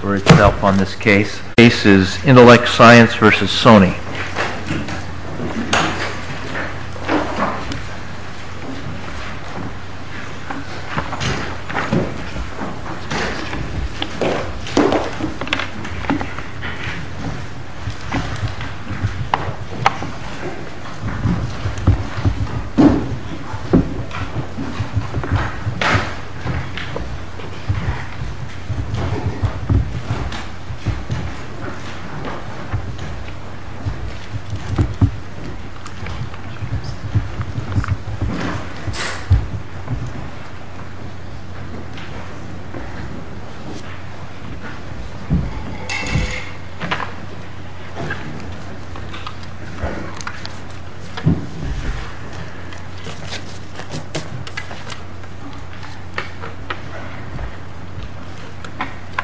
for itself on this case. The case is Intellect Science versus Sony.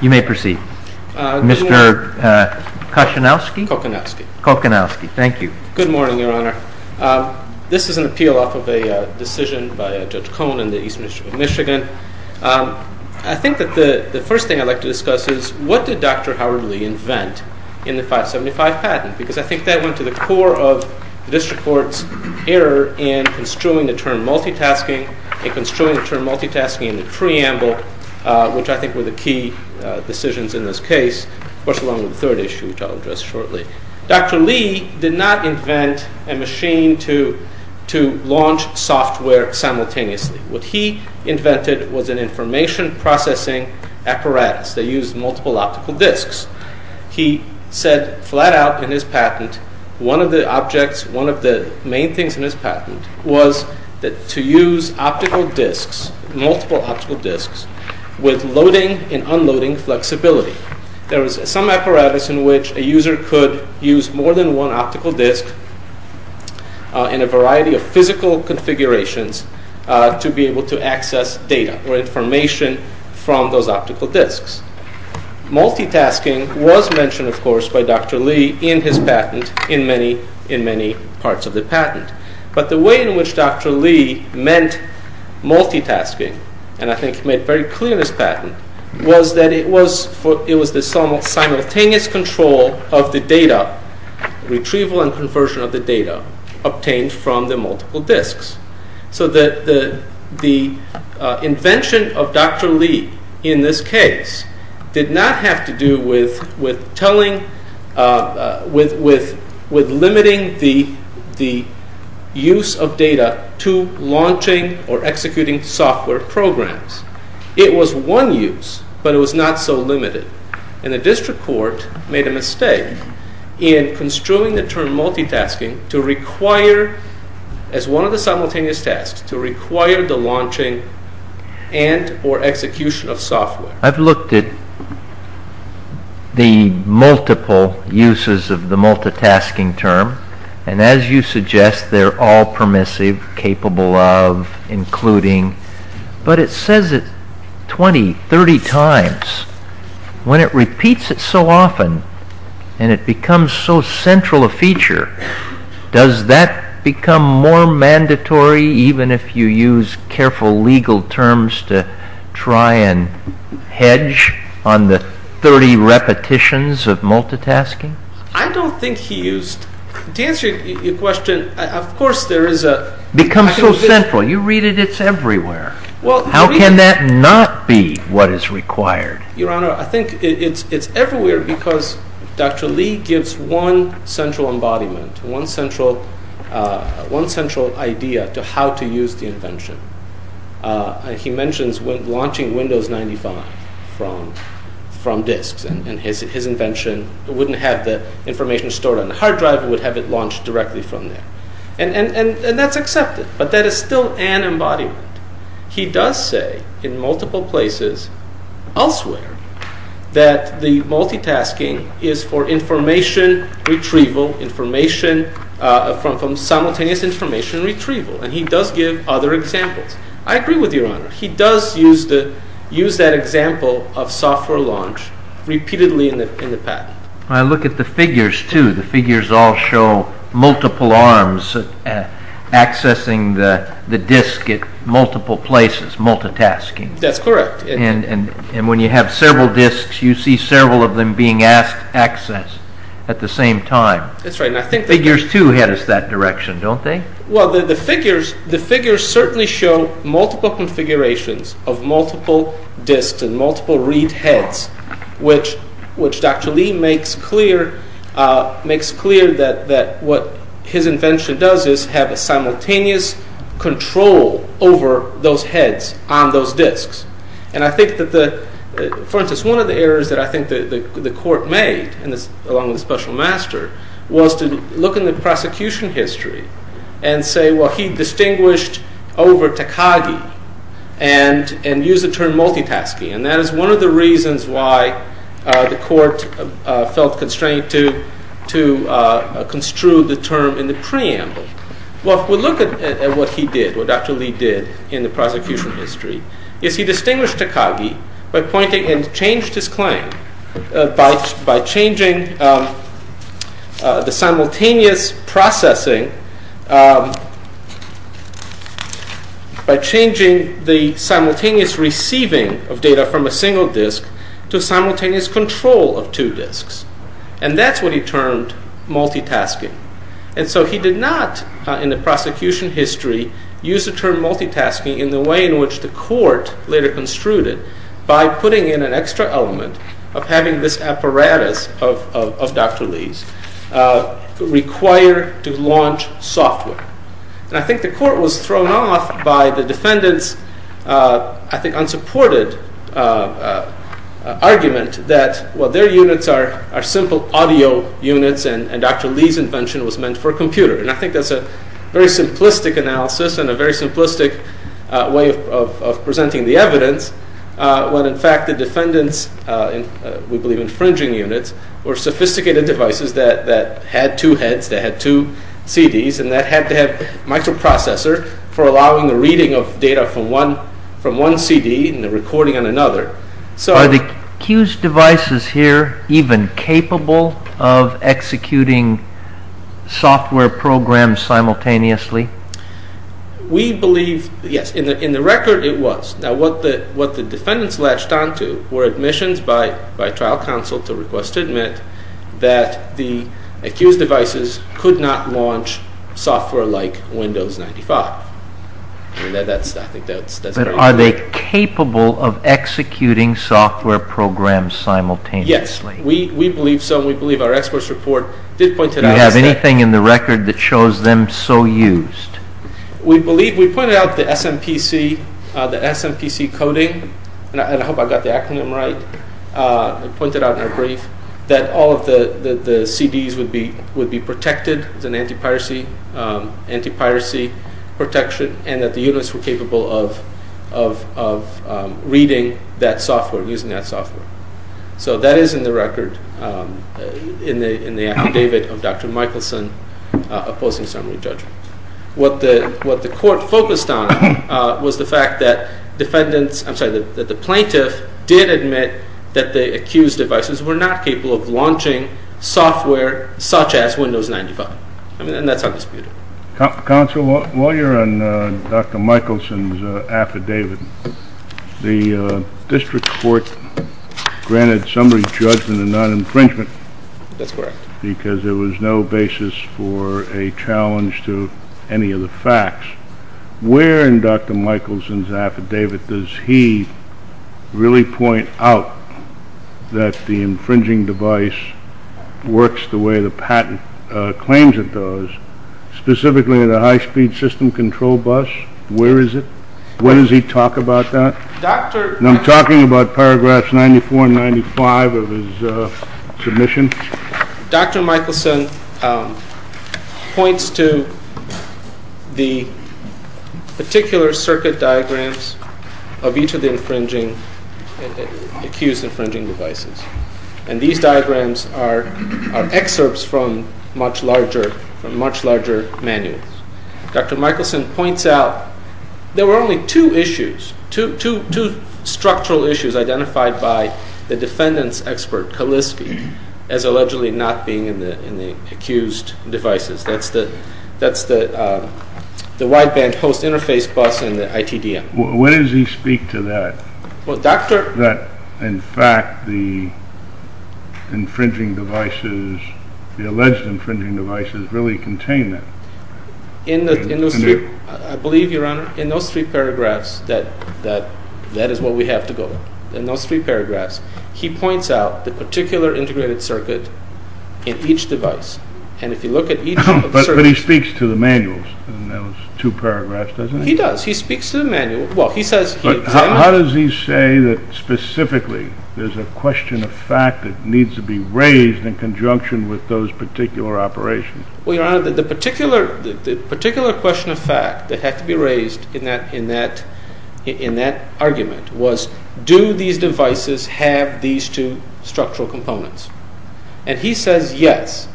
You may proceed. Mr. Koshinowski? Koshinowski. Koshinowski. Thank you. Good morning, Your Honor. This is an appeal off of a decision by Judge Cohn in the East Michigan. I think that the first thing I'd like to discuss is what did Dr. Howard Lee invent in the 575 patent? Because I think that went to the core of the district court's error in construing the term multitasking and construing the term multitasking in the preamble, which I think were the key decisions in this case, of course, along with the third issue, which I'll address shortly. Dr. Lee did not invent a machine to launch software simultaneously. What he invented was an information processing apparatus that used multiple optical disks. He said flat out in his patent, one of the objects, one of the main things in his patent was to use optical disks, multiple optical disks, with loading and unloading flexibility. There was some apparatus in which a user could use more than one optical disk in a variety of physical configurations to be able to access data or information from those optical disks. Multitasking was mentioned, of course, by Dr. Lee in his patent, in many parts of the patent. But the way in which Dr. Lee meant multitasking, and I think he made very clear in his patent, was that it was the simultaneous control of the data, retrieval and conversion of the data, obtained from the multiple disks. So the invention of Dr. Lee in this case did not have to do with limiting the use of data to launching or executing software programs. It was one use, but it was not so limited. And the District Court made a mistake in construing the term multitasking to require, as one of the simultaneous tasks, to require the launching and or execution of software. I've looked at the multiple uses of the multitasking term, and as you suggest, they're all permissive, capable of, including, but it says it 20, 30 times. When it repeats it so often, and it becomes so central a feature, does that become more mandatory even if you use careful legal terms to try and hedge on the 30 repetitions of multitasking? I don't think he used... To answer your question, of course there is a... It's central, you read it, it's everywhere. How can that not be what is required? Your Honor, I think it's everywhere because Dr. Lee gives one central embodiment, one central idea to how to use the invention. He mentions launching Windows 95 from disks, and his invention wouldn't have the information stored on the hard drive, it would have it launched directly from there. And that's accepted, but that is still an embodiment. He does say, in multiple places, elsewhere, that the multitasking is for information retrieval, from simultaneous information retrieval, and he does give other examples. I agree with your Honor, he does use that example of software launch repeatedly in the patent. I look at the figures too, the figures all show multiple arms accessing the disk at multiple places, multitasking. That's correct. And when you have several disks, you see several of them being asked access at the same time. That's right, and I think... Figures too head us that direction, don't they? Well, the figures certainly show multiple configurations of multiple disks and multiple read heads, which Dr. Lee makes clear that what his invention does is have a simultaneous control over those heads on those disks. And I think that the... For instance, one of the errors that I think the court made, along with the special master, was to look in the prosecution history and say, well, he distinguished over Takagi and used the term multitasking, and that is one of the reasons why the court felt constrained to construe the term in the preamble. Well, if we look at what he did, what Dr. Lee did in the prosecution history, is he distinguished Takagi by pointing and changed his claim by changing the simultaneous processing, by changing the simultaneous receiving of data from a single disk to simultaneous control of two disks. And that's what he termed multitasking. And so he did not, in the prosecution history, use the term multitasking in the way in which the court later construed it, by putting in an extra element of having this apparatus of Dr. Lee's require to launch software. And I think the court was thrown off by the defendant's, I think, unsupported argument that, well, their units are simple audio units, and Dr. Lee's invention was meant for computers. And I think that's a very simplistic analysis and a very simplistic way of presenting the evidence when, in fact, the defendant's, we believe, infringing units were sophisticated devices that had two heads, that had two CDs, and that had to have microprocessor for allowing the reading of data from one CD and the recording on another. Are the Q's devices here even capable of executing software programs simultaneously? We believe, yes, in the record it was. Now, what the defendants latched on to were admissions by trial counsel to request to admit that the accused devices could not launch software like Windows 95. And I think that's very clear. But are they capable of executing software programs simultaneously? Yes, we believe so, and we believe our experts report did point it out as that. Do you have anything in the record that shows them so used? We believe we pointed out the SMPC coding, and I hope I got the acronym right, I pointed out in our brief that all of the CDs would be protected, there's an anti-piracy protection, and that the units were capable of reading that software, using that software. So that is in the record, in the affidavit of Dr. Michelson opposing summary judgment. What the court focused on was the fact that the plaintiff did admit that the accused devices were not capable of launching software such as Windows 95, and that's undisputed. Counsel, while you're on Dr. Michelson's affidavit, the district court granted summary judgment and non-infringement. That's correct. Because there was no basis for a challenge to any of the facts. Where in Dr. Michelson's affidavit does he really point out that the infringing device works the way the patent claims it does, specifically in a high-speed system control bus? Where is it? When does he talk about that? I'm talking about paragraphs 94 and 95 of his submission. Dr. Michelson points to the particular circuit diagrams of each of the accused infringing devices, and these diagrams are excerpts from much larger manuals. Dr. Michelson points out there were only two structural issues identified by the defendant's expert, Kaliski, as allegedly not being in the accused devices. That's the wideband host interface bus in the ITDM. When does he speak to that, that in fact the alleged infringing devices really contain them? I believe, Your Honor, in those three paragraphs that is where we have to go. In those three paragraphs, he points out the particular integrated circuit in each device. But he speaks to the manuals in those two paragraphs, doesn't he? He does. He speaks to the manual. How does he say that specifically there's a question of fact that needs to be raised in conjunction with those particular operations? Well, Your Honor, the particular question of fact that had to be raised in that argument was do these devices have these two structural components? And he says yes.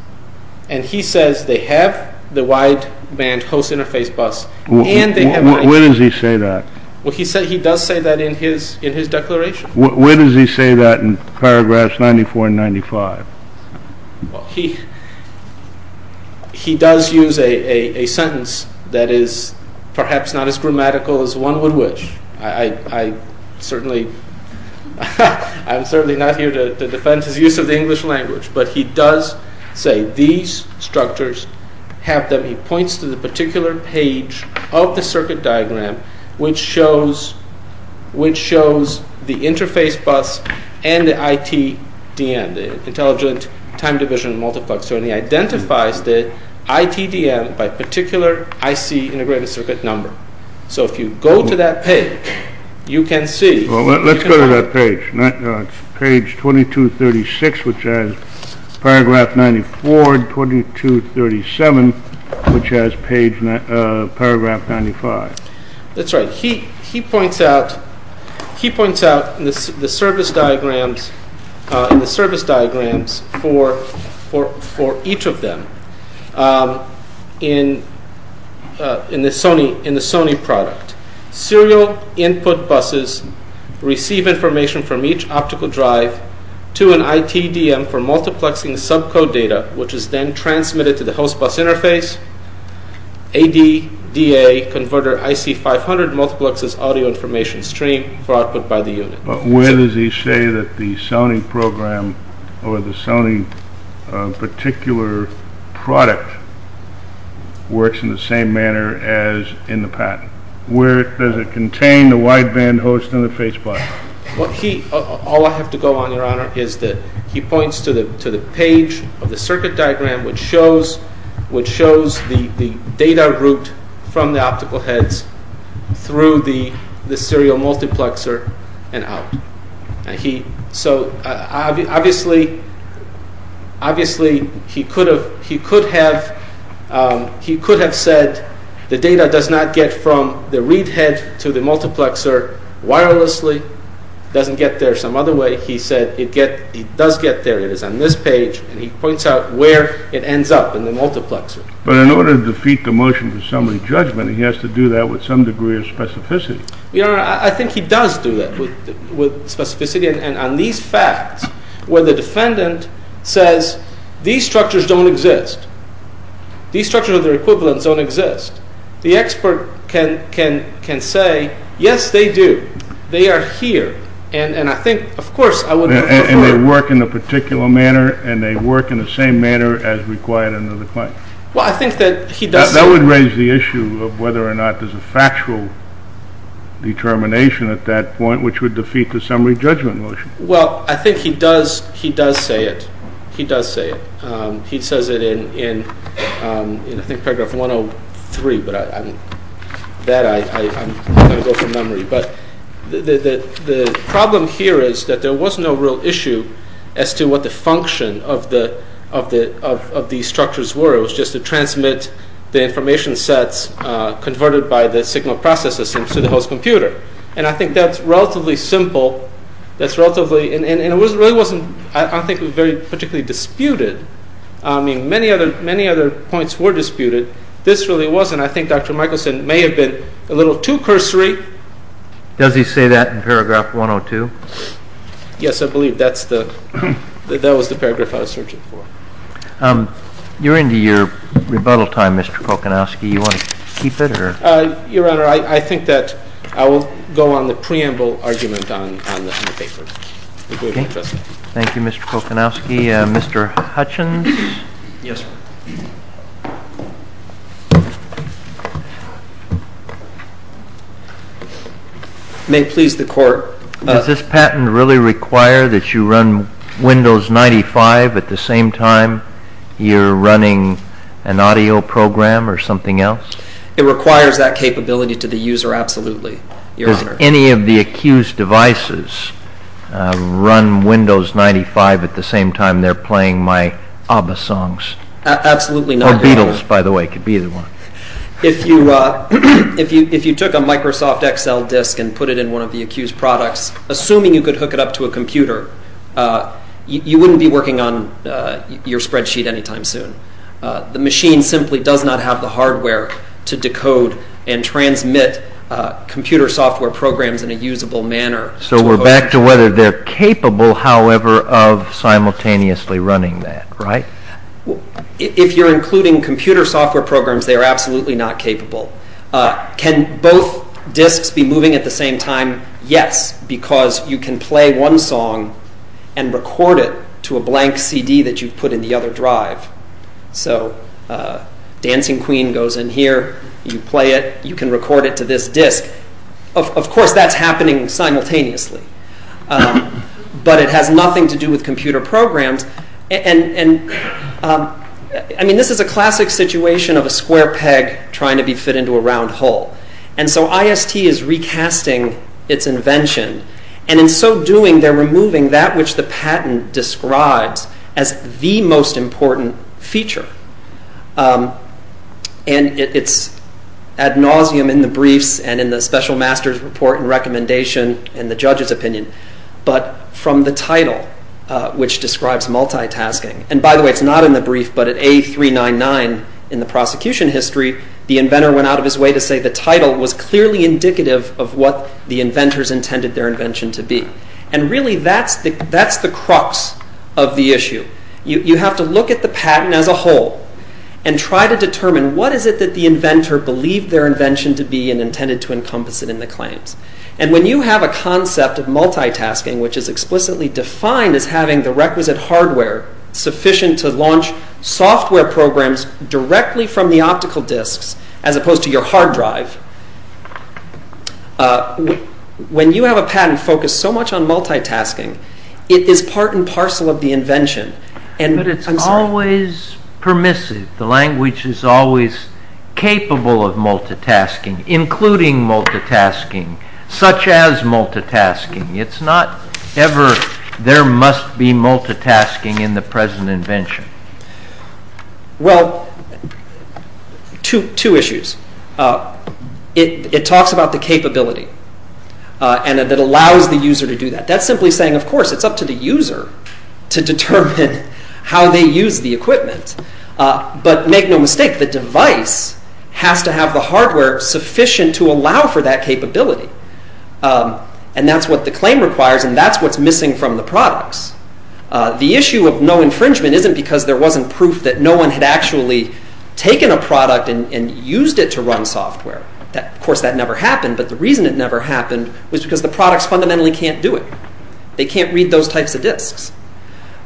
And he says they have the wideband host interface bus and they have ITDM. When does he say that? Well, he does say that in his declaration. When does he say that in paragraphs 94 and 95? He does use a sentence that is perhaps not as grammatical as one would wish. I'm certainly not here to defend his use of the English language. But he does say these structures have them. He points to the particular page of the circuit diagram which shows the interface bus and the ITDM. The intelligent time division multiplexer. And he identifies the ITDM by particular IC integrated circuit number. So if you go to that page, you can see. Well, let's go to that page. Page 2236, which has paragraph 94. 2237, which has paragraph 95. That's right. He points out the service diagrams for each of them in the Sony product. Serial input buses receive information from each optical drive to an ITDM for multiplexing subcode data, which is then transmitted to the host bus interface. ADDA converter IC500 multiplexes audio information stream for output by the unit. But where does he say that the Sony program or the Sony particular product works in the same manner as in the patent? Where does it contain the wideband host interface bus? All I have to go on, Your Honor, is that he points to the page of the circuit diagram which shows the data route from the optical heads through the serial multiplexer and out. So obviously he could have said the data does not get from the read head to the multiplexer wirelessly. It doesn't get there some other way. He said it does get there. It is on this page, and he points out where it ends up in the multiplexer. But in order to defeat the motion for summary judgment, he has to do that with some degree of specificity. Your Honor, I think he does do that with specificity. And on these facts, where the defendant says these structures don't exist, these structures of their equivalents don't exist, the expert can say, yes, they do. They are here. And I think, of course, I wouldn't go further. And they work in a particular manner, and they work in the same manner as required under the claim. Well, I think that he does say that. That would raise the issue of whether or not there's a factual determination at that point which would defeat the summary judgment motion. Well, I think he does say it. He does say it. He says it in, I think, paragraph 103, but that I'm going to go from memory. But the problem here is that there was no real issue as to what the function of these structures were. It was just to transmit the information sets converted by the signal processing system to the host computer. And I think that's relatively simple. And it really wasn't, I think, particularly disputed. I mean, many other points were disputed. This really wasn't. And I think Dr. Michelson may have been a little too cursory. Does he say that in paragraph 102? Yes, I believe that was the paragraph I was searching for. You're into your rebuttal time, Mr. Kocanowski. Do you want to keep it? Your Honor, I think that I will go on the preamble argument on the paper. Thank you, Mr. Kocanowski. Mr. Hutchins? Yes, sir. May it please the Court. Does this patent really require that you run Windows 95 at the same time you're running an audio program or something else? It requires that capability to the user, absolutely, Your Honor. Are any of the accused devices run Windows 95 at the same time they're playing my ABBA songs? Absolutely not, Your Honor. Or Beatles, by the way. It could be either one. If you took a Microsoft Excel disk and put it in one of the accused products, assuming you could hook it up to a computer, you wouldn't be working on your spreadsheet anytime soon. The machine simply does not have the hardware to decode and transmit computer software programs in a usable manner. So we're back to whether they're capable, however, of simultaneously running that, right? If you're including computer software programs, they are absolutely not capable. Can both disks be moving at the same time? Yes, because you can play one song and record it to a blank CD that you've put in the other drive. So Dancing Queen goes in here, you play it, you can record it to this disk. Of course, that's happening simultaneously. But it has nothing to do with computer programs. And, I mean, this is a classic situation of a square peg trying to be fit into a round hole. And so IST is recasting its invention. And in so doing, they're removing that which the patent describes as the most important feature. And it's ad nauseum in the briefs and in the special master's report and recommendation and the judge's opinion. But from the title, which describes multitasking, and by the way, it's not in the brief, but at A399 in the prosecution history, the inventor went out of his way to say the title was clearly indicative of what the inventors intended their invention to be. And really, that's the crux of the issue. You have to look at the patent as a whole and try to determine what is it that the inventor believed their invention to be and intended to encompass it in the claims. And when you have a concept of multitasking, which is explicitly defined as having the requisite hardware sufficient to launch software programs directly from the optical disks as opposed to your hard drive, when you have a patent focused so much on multitasking, it is part and parcel of the invention. But it's always permissive. The language is always capable of multitasking, including multitasking, such as multitasking. It's not ever there must be multitasking in the present invention. Well, two issues. It talks about the capability and that allows the user to do that. That's simply saying, of course, it's up to the user to determine how they use the equipment. But make no mistake, the device has to have the hardware sufficient to allow for that capability. And that's what the claim requires and that's what's missing from the products. The issue of no infringement isn't because there wasn't proof that no one had actually taken a product and used it to run software. Of course, that never happened. But the reason it never happened was because the products fundamentally can't do it. They can't read those types of disks.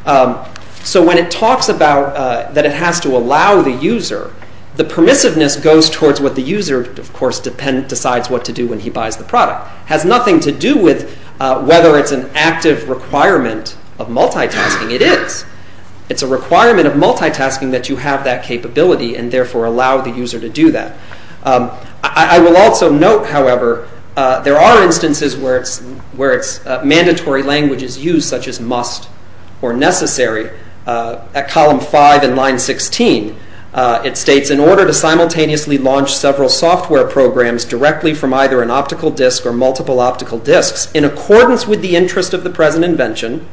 So when it talks about that it has to allow the user, the permissiveness goes towards what the user, of course, decides what to do when he buys the product. It has nothing to do with whether it's an active requirement of multitasking. It is. It's a requirement of multitasking that you have that capability and therefore allow the user to do that. I will also note, however, there are instances where it's mandatory language is used, such as must or necessary. At column 5 in line 16, it states, in order to simultaneously launch several software programs directly from either an optical disk or multiple optical disks, in accordance with the interest of the present invention,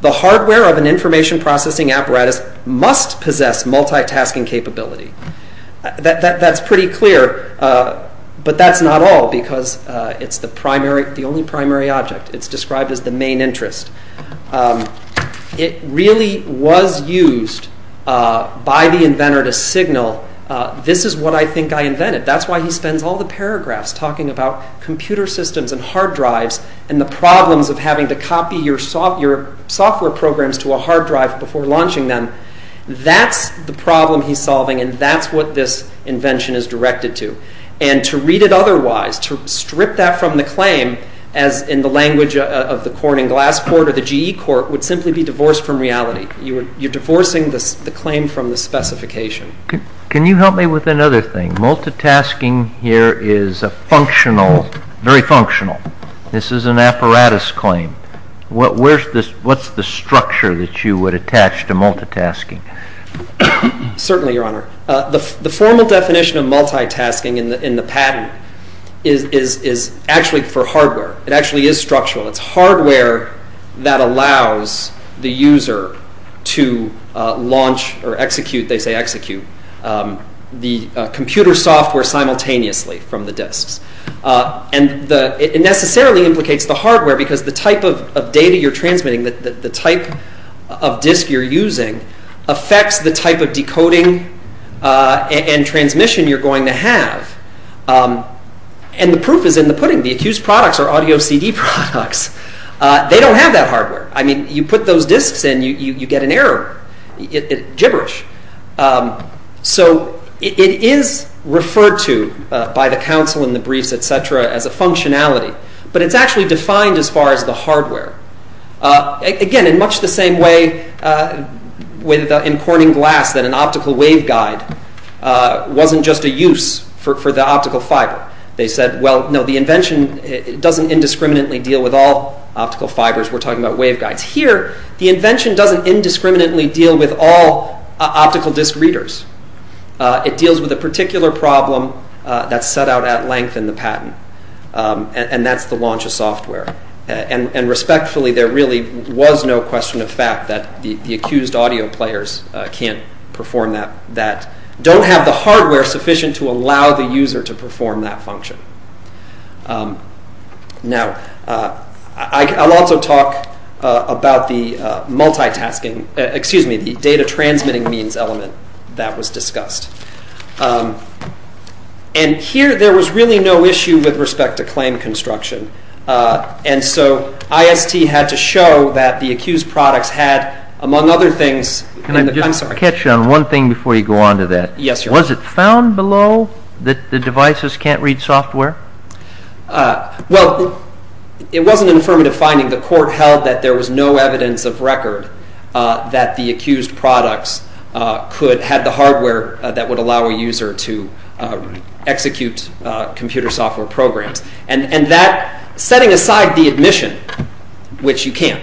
the hardware of an information processing apparatus must possess multitasking capability. That's pretty clear, but that's not all because it's the only primary object. It's described as the main interest. It really was used by the inventor to signal, this is what I think I invented. That's why he spends all the paragraphs talking about computer systems and hard drives and the problems of having to copy your software programs to a hard drive before launching them. That's the problem he's solving and that's what this invention is directed to. And to read it otherwise, to strip that from the claim, as in the language of the Corning Glass Court or the GE Court, would simply be divorced from reality. You're divorcing the claim from the specification. Can you help me with another thing? Multitasking here is a functional, very functional. This is an apparatus claim. What's the structure that you would attach to multitasking? Certainly, Your Honor. The formal definition of multitasking in the patent is actually for hardware. It actually is structural. It's hardware that allows the user to launch or execute, they say execute, the computer software simultaneously from the disks. It necessarily implicates the hardware because the type of data you're transmitting, the type of disk you're using affects the type of decoding and transmission you're going to have. And the proof is in the pudding. The accused products are audio CD products. They don't have that hardware. I mean, you put those disks in, you get an error. It's gibberish. So it is referred to by the counsel in the briefs, et cetera, as a functionality. But it's actually defined as far as the hardware. Again, in much the same way in Corning Glass that an optical waveguide wasn't just a use for the optical fiber. They said, well, no, the invention doesn't indiscriminately deal with all optical fibers. We're talking about waveguides. Here, the invention doesn't indiscriminately deal with all optical disk readers. It deals with a particular problem that's set out at length in the patent. And that's the launch of software. And respectfully, there really was no question of fact that the accused audio players can't perform that, that don't have the hardware sufficient to allow the user to perform that function. Now, I'll also talk about the multitasking, excuse me, the data transmitting means element that was discussed. And here, there was really no issue with respect to claim construction. And so IST had to show that the accused products had, among other things, Can I just catch on one thing before you go on to that? Yes, Your Honor. Was it found below that the devices can't read software? Well, it wasn't an affirmative finding. The court held that there was no evidence of record that the accused products could, had the hardware that would allow a user to execute computer software programs. And that, setting aside the admission, which you can't,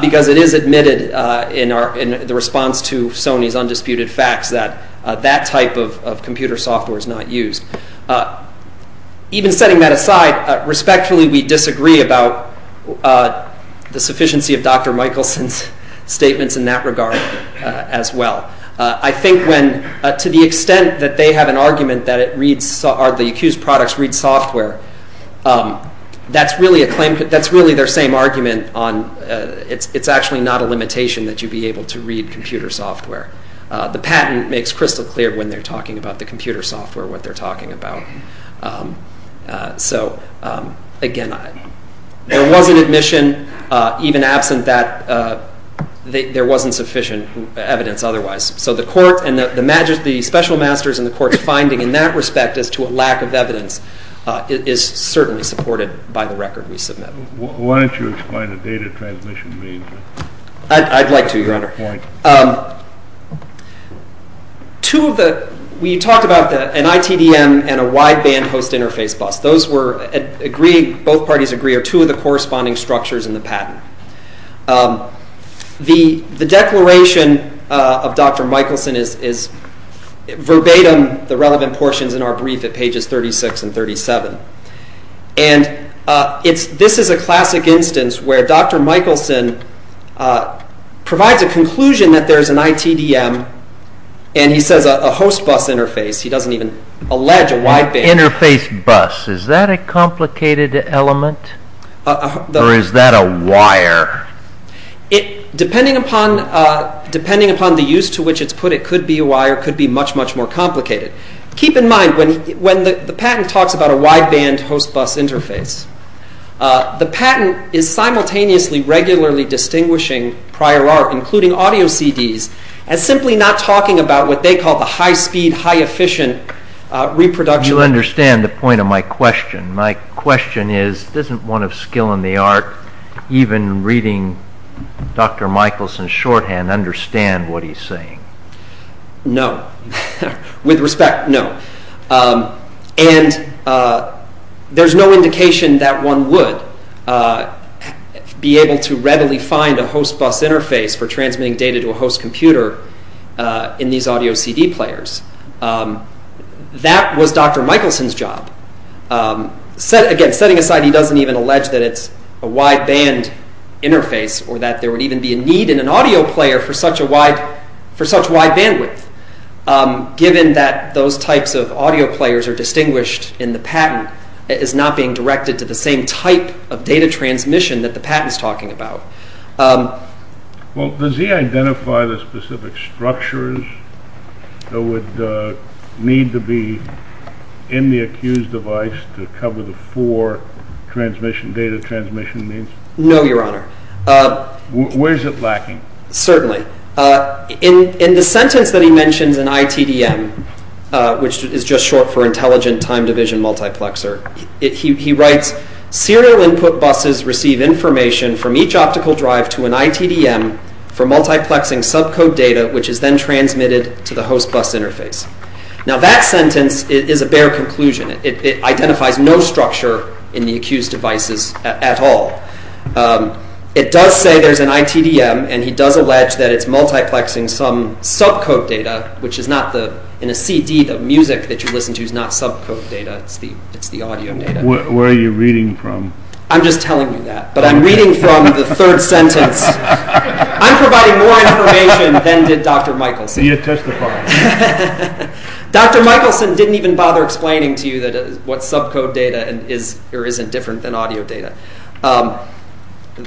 because it is admitted in the response to Sony's undisputed facts that that type of computer software is not used. Even setting that aside, respectfully, we disagree about the sufficiency of Dr. Michelson's statements in that regard as well. I think when, to the extent that they have an argument that it reads, or the accused products read software, that's really a claim, that's really their same argument on, it's actually not a limitation that you be able to read computer software. The patent makes crystal clear when they're talking about the computer software, what they're talking about. So, again, there was an admission, even absent that there wasn't sufficient evidence otherwise. So the court and the special masters and the court's finding in that respect as to a lack of evidence is certainly supported by the record we submit. Why don't you explain what data transmission means? I'd like to, Your Honor. We talked about an ITDM and a wideband host interface bus. Those were agreed, both parties agree, are two of the corresponding structures in the patent. The declaration of Dr. Michelson is verbatim the relevant portions in our brief at pages 36 and 37. This is a classic instance where Dr. Michelson provides a conclusion that there's an ITDM, and he says a host bus interface, he doesn't even allege a wideband. Interface bus, is that a complicated element, or is that a wire? Depending upon the use to which it's put, it could be a wire, it could be much, much more complicated. Keep in mind, when the patent talks about a wideband host bus interface, the patent is simultaneously regularly distinguishing prior art, including audio CDs, as simply not talking about what they call the high-speed, high-efficient reproduction. You understand the point of my question. My question is, doesn't one of skill in the art, even reading Dr. Michelson's shorthand, understand what he's saying? No. With respect, no. And there's no indication that one would be able to readily find a host bus interface for transmitting data to a host computer in these audio CD players. That was Dr. Michelson's job. Again, setting aside he doesn't even allege that it's a wideband interface, or that there would even be a need in an audio player for such wide bandwidth, given that those types of audio players are distinguished in the patent as not being directed to the same type of data transmission that the patent is talking about. Well, does he identify the specific structures that would need to be in the accused device to cover the four data transmission means? No, Your Honor. Where is it lacking? Certainly. In the sentence that he mentions in ITDM, which is just short for Intelligent Time Division Multiplexer, he writes, Serial input buses receive information from each optical drive to an ITDM for multiplexing subcode data, which is then transmitted to the host bus interface. Now that sentence is a bare conclusion. It identifies no structure in the accused devices at all. It does say there's an ITDM, and he does allege that it's multiplexing some subcode data, which is not the, in a CD, the music that you listen to is not subcode data. It's the audio data. Where are you reading from? I'm just telling you that. But I'm reading from the third sentence. I'm providing more information than did Dr. Michelson. You testify. Dr. Michelson didn't even bother explaining to you what subcode data is or isn't different than audio data.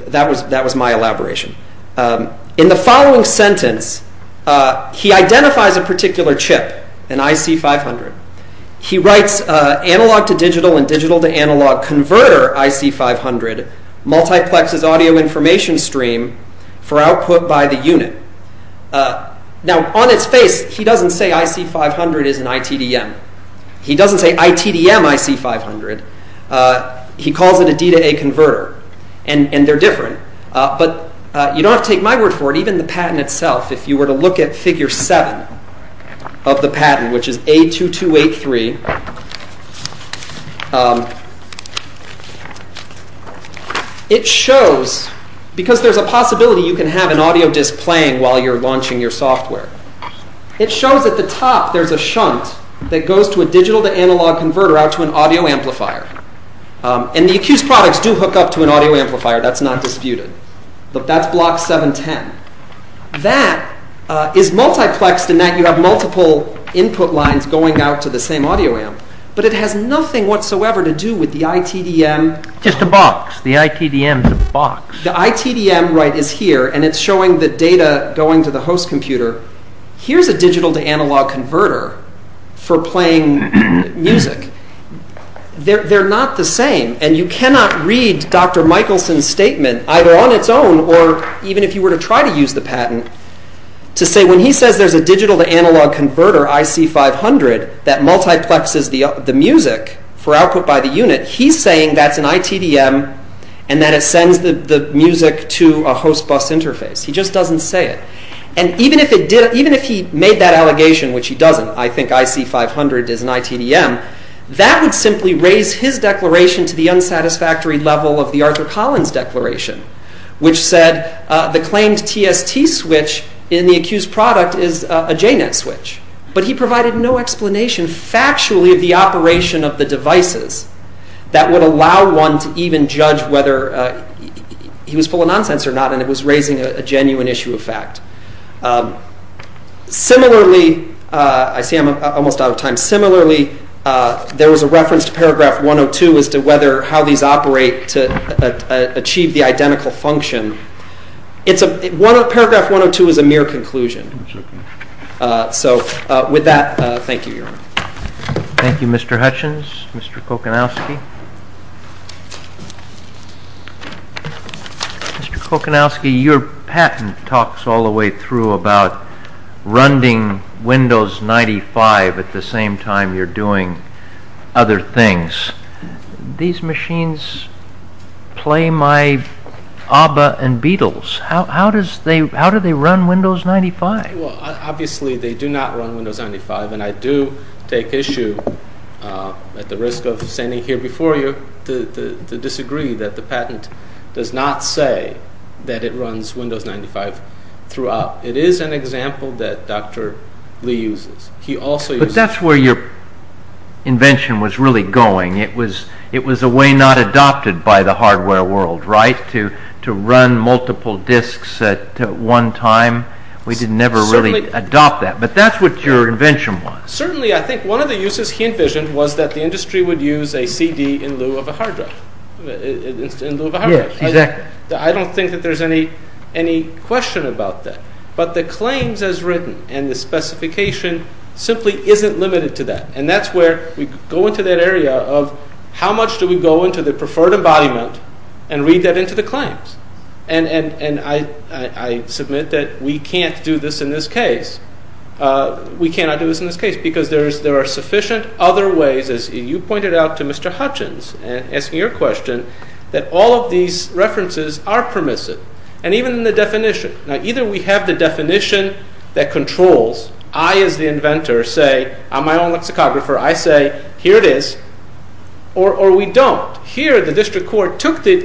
That was my elaboration. In the following sentence, he identifies a particular chip, an IC500. He writes, Analog to digital and digital to analog converter IC500 multiplexes audio information stream for output by the unit. Now, on its face, he doesn't say IC500 is an ITDM. He doesn't say ITDM IC500. He calls it a D-to-A converter, and they're different. But you don't have to take my word for it. Even the patent itself, if you were to look at Figure 7 of the patent, which is A2283, it shows, because there's a possibility you can have an audio disc playing while you're launching your software, it shows at the top there's a shunt that goes to a digital-to-analog converter out to an audio amplifier. And the accused products do hook up to an audio amplifier. That's not disputed. That's Block 710. That is multiplexed in that you have multiple input lines going out to the same audio amp. But it has nothing whatsoever to do with the ITDM. Just a box. The ITDM's a box. The ITDM is here, and it's showing the data going to the host computer. Here's a digital-to-analog converter for playing music. They're not the same. And you cannot read Dr. Michelson's statement, either on its own or even if you were to try to use the patent, to say when he says there's a digital-to-analog converter, IC500, that multiplexes the music for output by the unit, he's saying that's an ITDM, and that it sends the music to a host bus interface. He just doesn't say it. And even if he made that allegation, which he doesn't, I think IC500 is an ITDM, that would simply raise his declaration to the unsatisfactory level of the Arthur Collins declaration, which said the claimed TST switch in the accused product is a JNET switch. But he provided no explanation, factually, of the operation of the devices that would allow one to even judge whether he was full of nonsense or not, and it was raising a genuine issue of fact. Similarly, I see I'm almost out of time. Similarly, there was a reference to paragraph 102 as to how these operate to achieve the identical function. Paragraph 102 is a mere conclusion. So with that, thank you, Your Honor. Thank you, Mr. Hutchins. Mr. Kocanowski. Mr. Kocanowski, your patent talks all the way through about running Windows 95 at the same time you're doing other things. These machines play my ABBA and Beatles. How do they run Windows 95? Obviously, they do not run Windows 95, and I do take issue at the risk of standing here before you to disagree that the patent does not say that it runs Windows 95 throughout. It is an example that Dr. Lee uses. But that's where your invention was really going. It was a way not adopted by the hardware world, right, to run multiple disks at one time? We didn't ever really adopt that. But that's what your invention was. Certainly, I think one of the uses he envisioned was that the industry would use a CD in lieu of a hard drive. Yes, exactly. I don't think that there's any question about that. But the claims as written and the specification simply isn't limited to that. And that's where we go into that area of how much do we go into the preferred embodiment and read that into the claims? And I submit that we can't do this in this case. We cannot do this in this case because there are sufficient other ways, as you pointed out to Mr. Hutchins, asking your question, that all of these references are permissive, and even in the definition. Now, either we have the definition that controls, I as the inventor say, I'm my own lexicographer, I say, here it is, or we don't. Here, the district court took the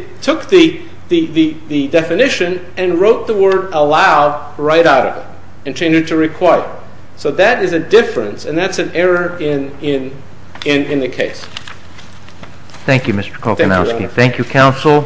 definition and wrote the word allow right out of it and changed it to require. So that is a difference, and that's an error in the case. Thank you, Mr. Kokanowski. Thank you, counsel.